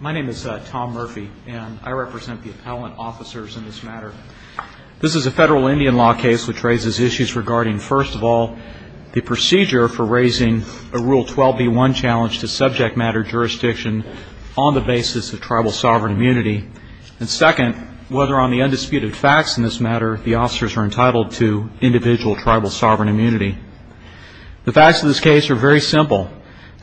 My name is Tom Murphy and I represent the appellant officers in this matter. This is a federal Indian law case which raises issues regarding, first of all, the procedure for raising a Rule 12b1 challenge to subject matter jurisdiction on the basis of tribal sovereign immunity, and second, whether on the undisputed facts in this matter the officers are entitled to individual tribal sovereign immunity. The facts of this case are very simple.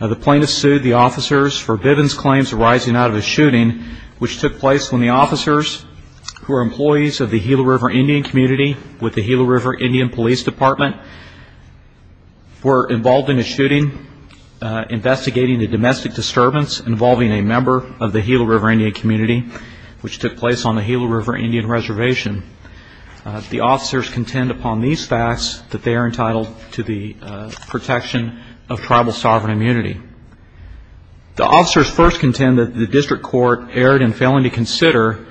The plaintiff sued the officers for Bivens' claims arising out of a shooting which took place when the officers, who are employees of the Gila River Indian community with the Gila River Indian Police Department, were involved in a shooting investigating a domestic disturbance involving a member of the Gila River Indian community which took place on the Gila River Indian Reservation. The officers contend upon these facts that they are entitled to the protection of tribal sovereign immunity. The officers first contend that the district court erred in failing to consider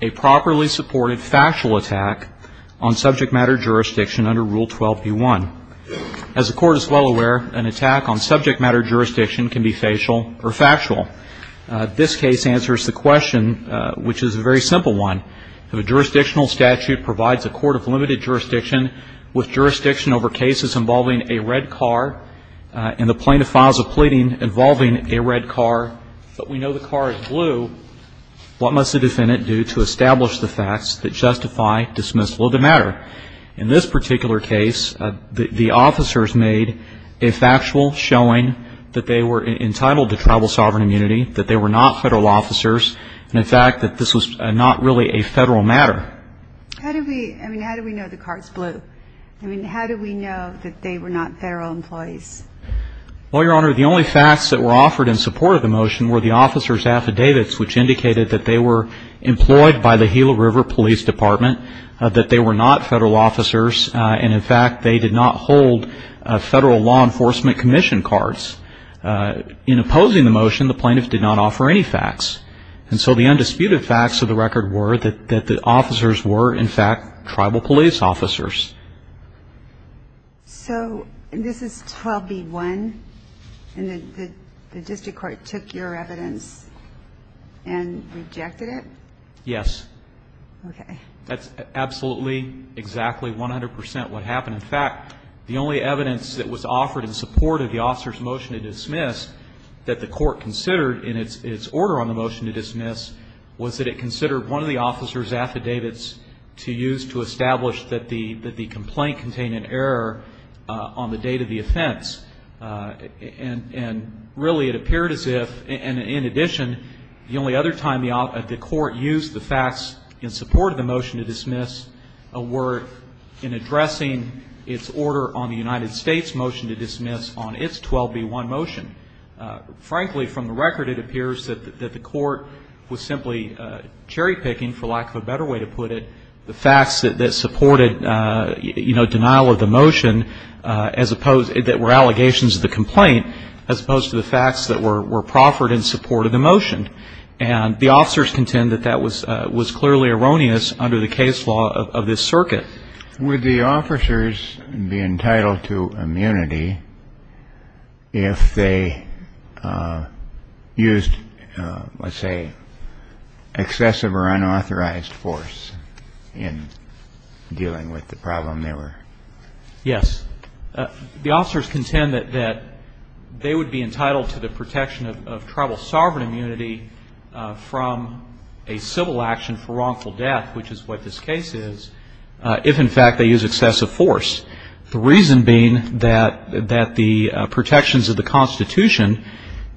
a properly supported factual attack on subject matter jurisdiction under Rule 12b1. As the court is well aware, an attack on subject matter jurisdiction can be facial or factual. This case answers the question, which is a very simple one. If a jurisdictional statute provides a court of limited jurisdiction with jurisdiction over cases involving a red car and the plaintiff files a pleading involving a red car, but we know the car is blue, what must the defendant do to establish the facts that justify dismissal of the matter? In this particular case, the officers made a factual showing that they were entitled to tribal sovereign immunity, that they were not federal officers, and in fact that this was not really a federal matter. How do we know the car is blue? I mean, how do we know that they were not federal employees? Well, Your Honor, the only facts that were offered in support of the motion were the officers' affidavits which indicated that they were employed by the Gila River Police Department, that they were not federal officers, and in fact they did not hold federal law enforcement commission cards. In opposing the motion, the plaintiff did not offer any facts. And so the undisputed facts of the record were that the officers were, in fact, tribal police officers. So this is 12b1, and the district court took your evidence and rejected it? Yes. Okay. That's absolutely exactly 100 percent what happened. In fact, the only evidence that was offered in support of the officer's motion to dismiss that the court considered in its order on the motion to dismiss was that it considered one of the officers' affidavits to use to establish that the complaint contained an error on the date of the offense. And really it appeared as if, and in addition, the only other time the court used the facts in support of the motion to dismiss were in addressing its order on the United States motion to dismiss on its 12b1 motion. Frankly, from the record, it appears that the court was simply cherry picking, for lack of a better way to put it, the facts that supported, you know, denial of the motion as opposed, that were allegations of the complaint, as opposed to the facts that were proffered in support of the motion. And the officers contend that that was clearly erroneous under the case law of this circuit. Would the officers be entitled to immunity if they used, let's say, excessive or unauthorized force in dealing with the problem they were? Yes. The officers contend that they would be entitled to the protection of tribal sovereign immunity from a civil action for wrongful death, which is what this case is, if in fact they use excessive force. The reason being that the protections of the Constitution,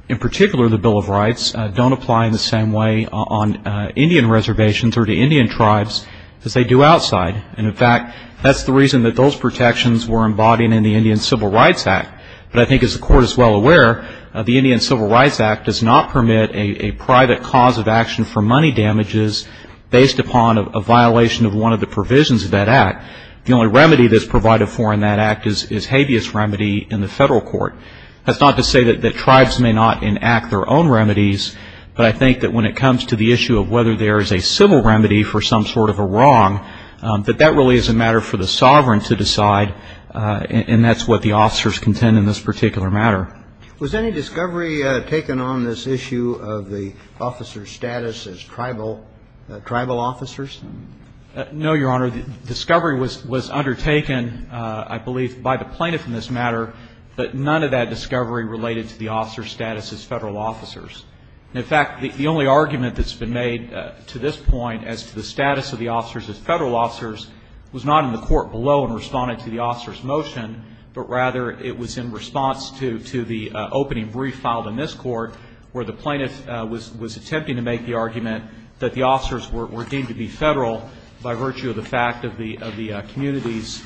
in particular the Bill of Rights, don't apply in the same way on Indian reservations or to Indian tribes as they do outside. And in fact, that's the reason that those protections were embodied in the Indian Civil Rights Act. But I think as the court is well aware, the Indian Civil Rights Act does not permit a private cause of action for money damages based upon a violation of one of the provisions of that act. The only remedy that's provided for in that act is habeas remedy in the federal court. That's not to say that tribes may not enact their own remedies, but I think that when it comes to the issue of whether there is a civil remedy for some sort of a wrong, that that really is a matter for the sovereign to decide, and that's what the officers contend in this particular matter. Was any discovery taken on this issue of the officer's status as tribal officers? No, Your Honor. The discovery was undertaken, I believe, by the plaintiff in this matter, but none of that discovery related to the officer's status as federal officers. In fact, the only argument that's been made to this point as to the status of the officers as federal officers was not in the court below in responding to the officer's motion, but rather it was in response to the opening brief filed in this court where the plaintiff was attempting to make the argument that the officers were deemed to be federal by virtue of the fact of the community's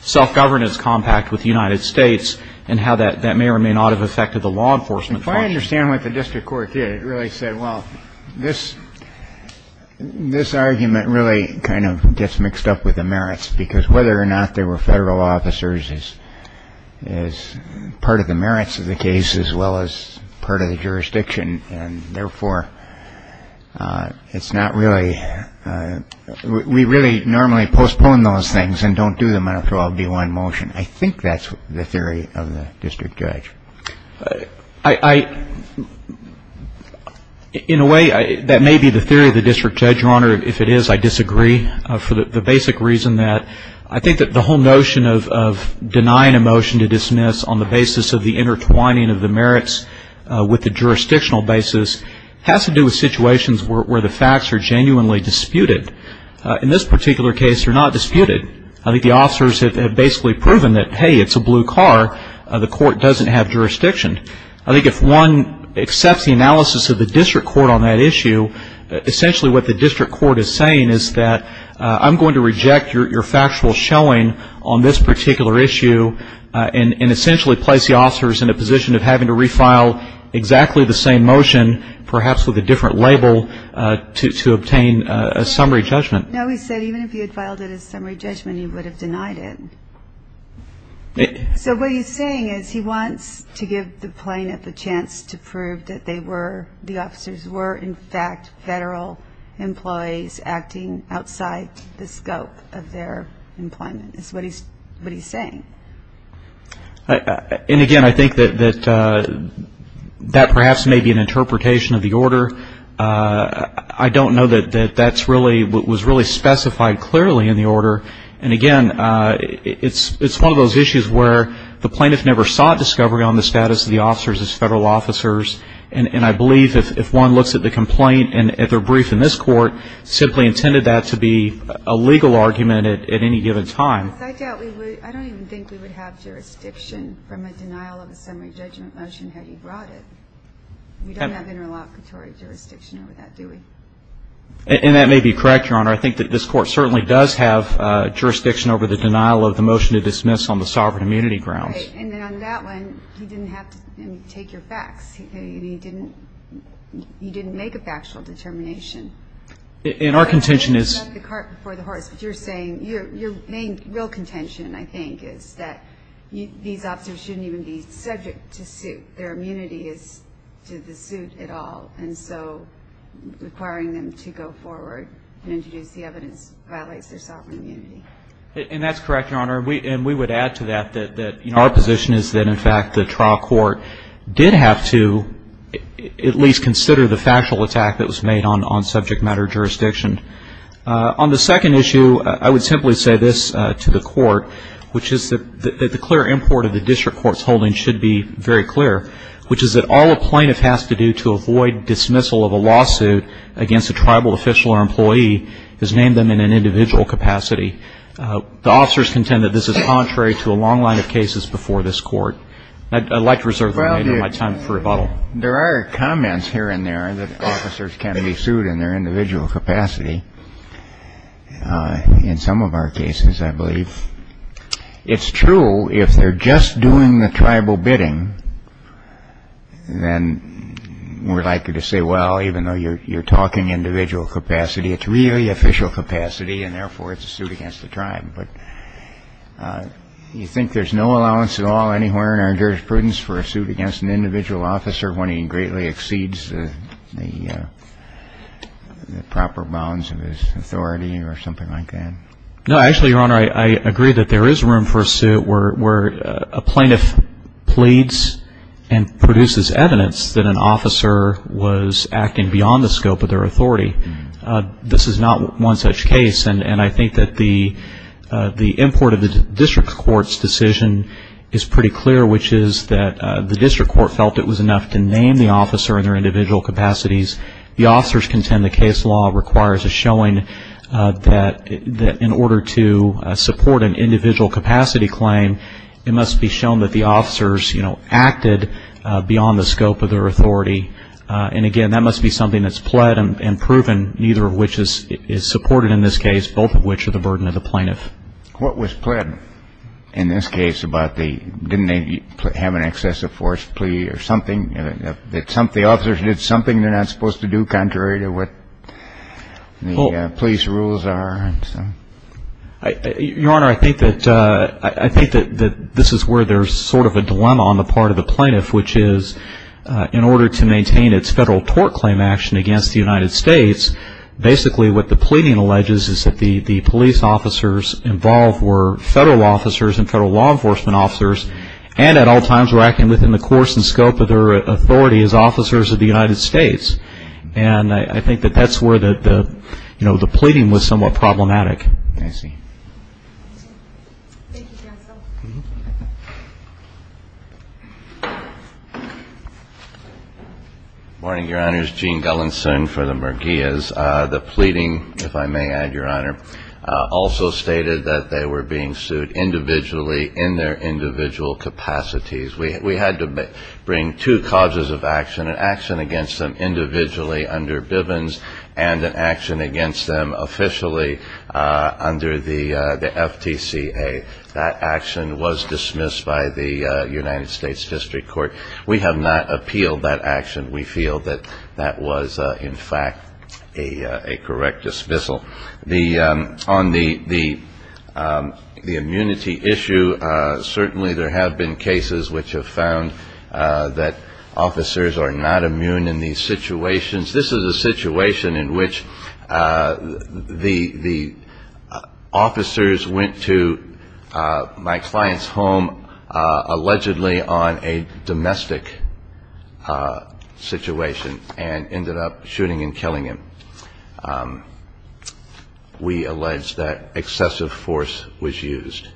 self-governance compact with the United States and how that may or may not have affected the law enforcement process. If I understand what the district court did, it really said, well, this argument really kind of gets mixed up with the merits, because whether or not they were federal officers is part of the merits of the case as well as part of the jurisdiction, and therefore it's not really – we really normally postpone those things and don't do them after all B-1 motion. I think that's the theory of the district judge. I – in a way, that may be the theory of the district judge, Your Honor. If it is, I disagree for the basic reason that I think that the whole notion of denying a motion to dismiss on the basis of the intertwining of the merits with the jurisdictional basis has to do with situations where the facts are genuinely disputed. In this particular case, they're not disputed. I think the officers have basically proven that, hey, it's a blue car. The court doesn't have jurisdiction. I think if one accepts the analysis of the district court on that issue, essentially what the district court is saying is that I'm going to reject your factual showing on this particular issue and essentially place the officers in a position of having to refile exactly the same motion, perhaps with a different label, to obtain a summary judgment. No, he said even if he had filed it as summary judgment, he would have denied it. So what he's saying is he wants to give the plaintiff a chance to prove that they were – the officers were, in fact, federal employees acting outside the scope of their employment is what he's saying. And, again, I think that that perhaps may be an interpretation of the order. I don't know that that's really – was really specified clearly in the order. And, again, it's one of those issues where the plaintiff never sought discovery on the status of the officers as federal officers. And I believe if one looks at the complaint and at their brief in this court, simply intended that to be a legal argument at any given time. Yes, I doubt we would – I don't even think we would have jurisdiction from a denial of a summary judgment motion had he brought it. We don't have interlocutory jurisdiction over that, do we? And that may be correct, Your Honor. I think that this court certainly does have jurisdiction over the denial of the motion to dismiss on the sovereign immunity grounds. Right. And then on that one, he didn't have to take your facts. He didn't make a factual determination. And our contention is – You have the cart before the horse. But you're saying – your main real contention, I think, is that these officers shouldn't even be subject to suit. Their immunity is to the extent that requiring them to go forward and introduce the evidence violates their sovereign immunity. And that's correct, Your Honor. And we would add to that that our position is that in fact the trial court did have to at least consider the factual attack that was made on subject matter jurisdiction. On the second issue, I would simply say this to the court, which is that the clear import of the district court's holding should be very clear, which is that all a plaintiff has to do to avoid dismissal of a lawsuit against a tribal official or employee is name them in an individual capacity. The officers contend that this is contrary to a long line of cases before this court. I'd like to reserve my time for rebuttal. Well, there are comments here and there that officers can be sued in their individual capacity in some of our cases, I believe. It's true if they're just doing the tribal bidding, then we're likely to say, well, even though you're talking individual capacity, it's really official capacity, and therefore it's a suit against the tribe. But you think there's no allowance at all anywhere in our jurisprudence for a suit against an individual officer when he greatly exceeds the proper bounds of his authority or something like that? No, actually, Your Honor, I agree that there is room for a suit where a plaintiff pleads and produces evidence that an officer was acting beyond the scope of their authority. This is not one such case, and I think that the import of the district court's decision is pretty clear, which is that the district court felt it was enough to name the officer in their individual capacities. The officers contend the case law requires a showing that in order to support an individual capacity claim, it must be shown that the officers, you know, acted beyond the scope of their authority. And again, that must be something that's pled and proven, neither of which is supported in this case, both of which are the burden of the plaintiff. What was pled in this case? Didn't they have an excessive force plea or something? The plaintiff was supposed to do contrary to what the police rules are, and so. Your Honor, I think that this is where there's sort of a dilemma on the part of the plaintiff, which is in order to maintain its federal tort claim action against the United States, basically what the pleading alleges is that the police officers involved were federal officers and federal law enforcement officers, and at all times were acting within the course and scope of their authority as officers of the United States. And I think that that's where the, you know, the pleading was somewhat problematic. I see. Thank you, counsel. Good morning, Your Honors. Gene Gellin soon for the Merguez. The pleading, if I may add, Your Honor, also stated that they were being sued individually in their individual capacities. We had to bring two causes of action, an action against them individually under Bivens and an action against them officially under the FTCA. That action was dismissed by the United States District Court. We have not appealed that action. We feel that that was, in fact, a correct dismissal. On the immunity issue, certainly there have been cases which have found that officers are not immune in these situations. This is a situation in which the officers went to my client's home allegedly on a domestic situation and ended up shooting and killing him. We allege that excessive force was used.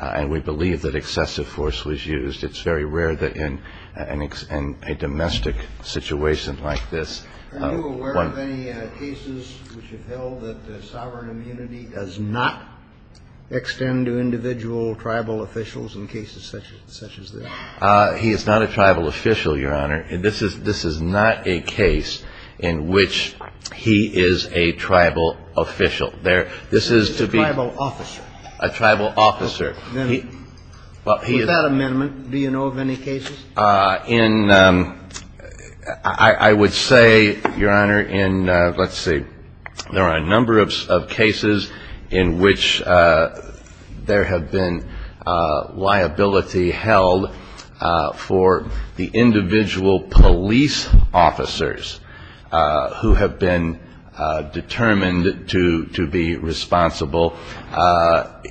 And we believe that excessive force was used. It's very rare that in a domestic situation like this one... Are you aware of any cases which have held that the sovereign immunity does not extend to individual tribal officials in cases such as this? He is not a tribal official, Your Honor. This is not a case in which he is a tribal official. This is to be... A tribal officer. A tribal officer. With that amendment, do you know of any cases? In... I would say, Your Honor, in... Let's see. There are a number of cases in which there have been liability held for the individual police officers who have been determined to be responsible.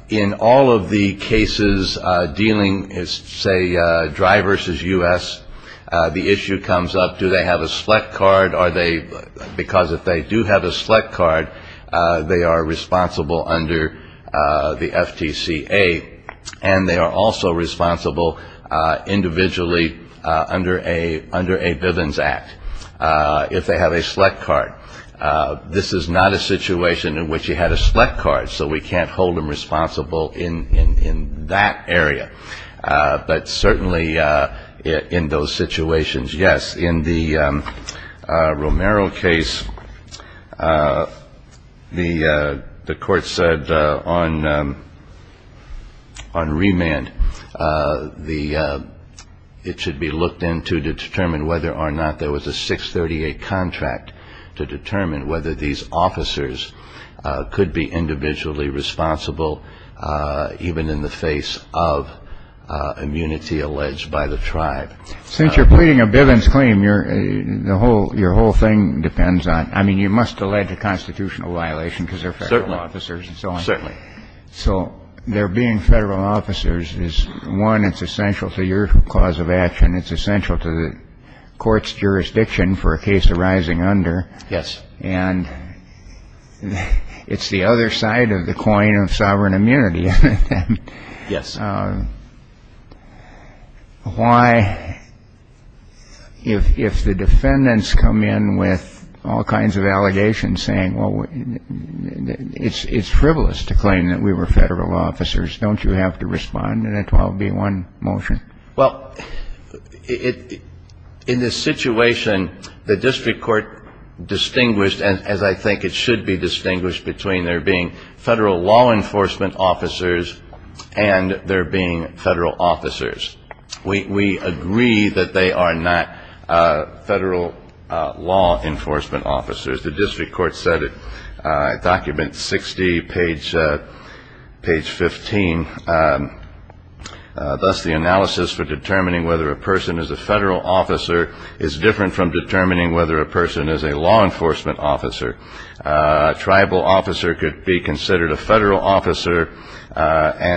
In all of the cases dealing, say, dry versus U.S., the issue comes up, do they have a select card? Are they... Because if they do have a select card, they are responsible under the FTCA. And they are also responsible individually under a Bivens Act, if they have a select card. This is not a situation in which he had a select card, so we can't hold him responsible in that area. But certainly in those situations, yes. In the Romero case, the court said on remand, it should be looked into to determine whether or not there was a 638 contract to determine whether these officers could be individually responsible even in the face of immunity alleged by the tribe. Since you're pleading a Bivens claim, your whole thing depends on... I mean, you must allege a constitutional violation because they're federal officers and so on. Certainly. So there being federal officers is, one, it's essential to your cause of action. It's essential to the court's jurisdiction for a case arising under. Yes. And it's the other side of the coin of sovereign immunity. Yes. Why, if the defendants come in with all kinds of allegations saying, well, it's frivolous to claim that we were federal officers, don't you have to respond in a 12b1 motion? Well, in this situation, the district court distinguished, as I think it should be distinguished between there being federal law enforcement officers and there being federal officers. We agree that they are not federal law enforcement officers. The district court said it, document 60, page 15. Thus the analysis for determining whether a person is a federal officer is different from determining whether a person is a law enforcement officer. A tribal officer could be considered a federal officer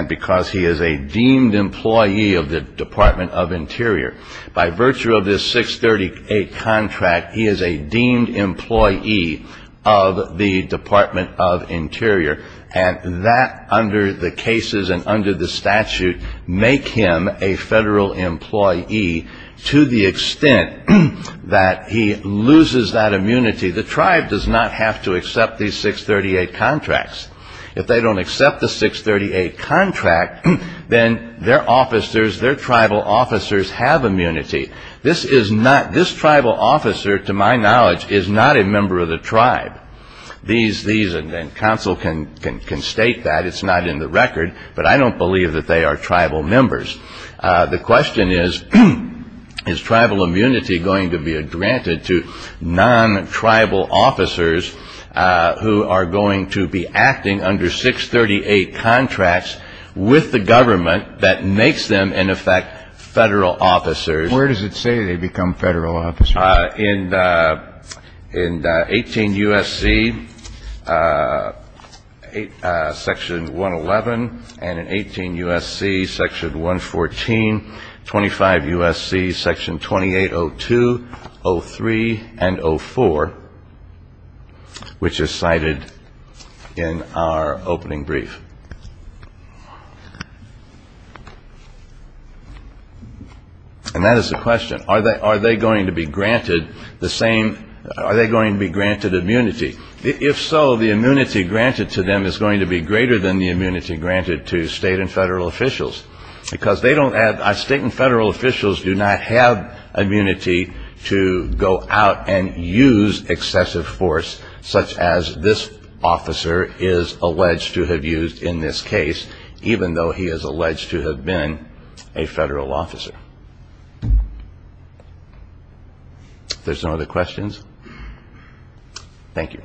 because he is a deemed employee of the Department of Interior. By virtue of this 638 contract, he is a deemed employee of the Department of Interior. And that, under the cases and under the statute, make him a federal employee to the extent that he loses that immunity. The tribe does not have to accept these 638 contracts. If they don't accept the 638 contract, then their officers, their tribal officers have immunity. This is not, this tribal officer, to my knowledge, is not a member of the tribe. These, and counsel can state that, it's not in the record, but I don't believe that they are tribal members. The question is, is tribal immunity going to be granted to non-tribal officers who are going to be acting under 638 contracts with the government that makes them, in effect, federal officers? Where does it say they become federal officers? In 18 U.S.C., Section 111, and in 18 U.S.C., Section 114, 25 U.S.C., Section 2802, 03, and 04, which is cited in our opening brief. And that is the question. Are they going to be granted the same, are they going to be granted immunity? If so, the immunity granted to them is going to be greater than the immunity granted to state and federal officials, because they don't have, state and federal officials do not have immunity to go out and use excessive force, such as this officer is alleged to have used in this case, even though he is alleged to have been a federal officer. If there's no other questions, thank you.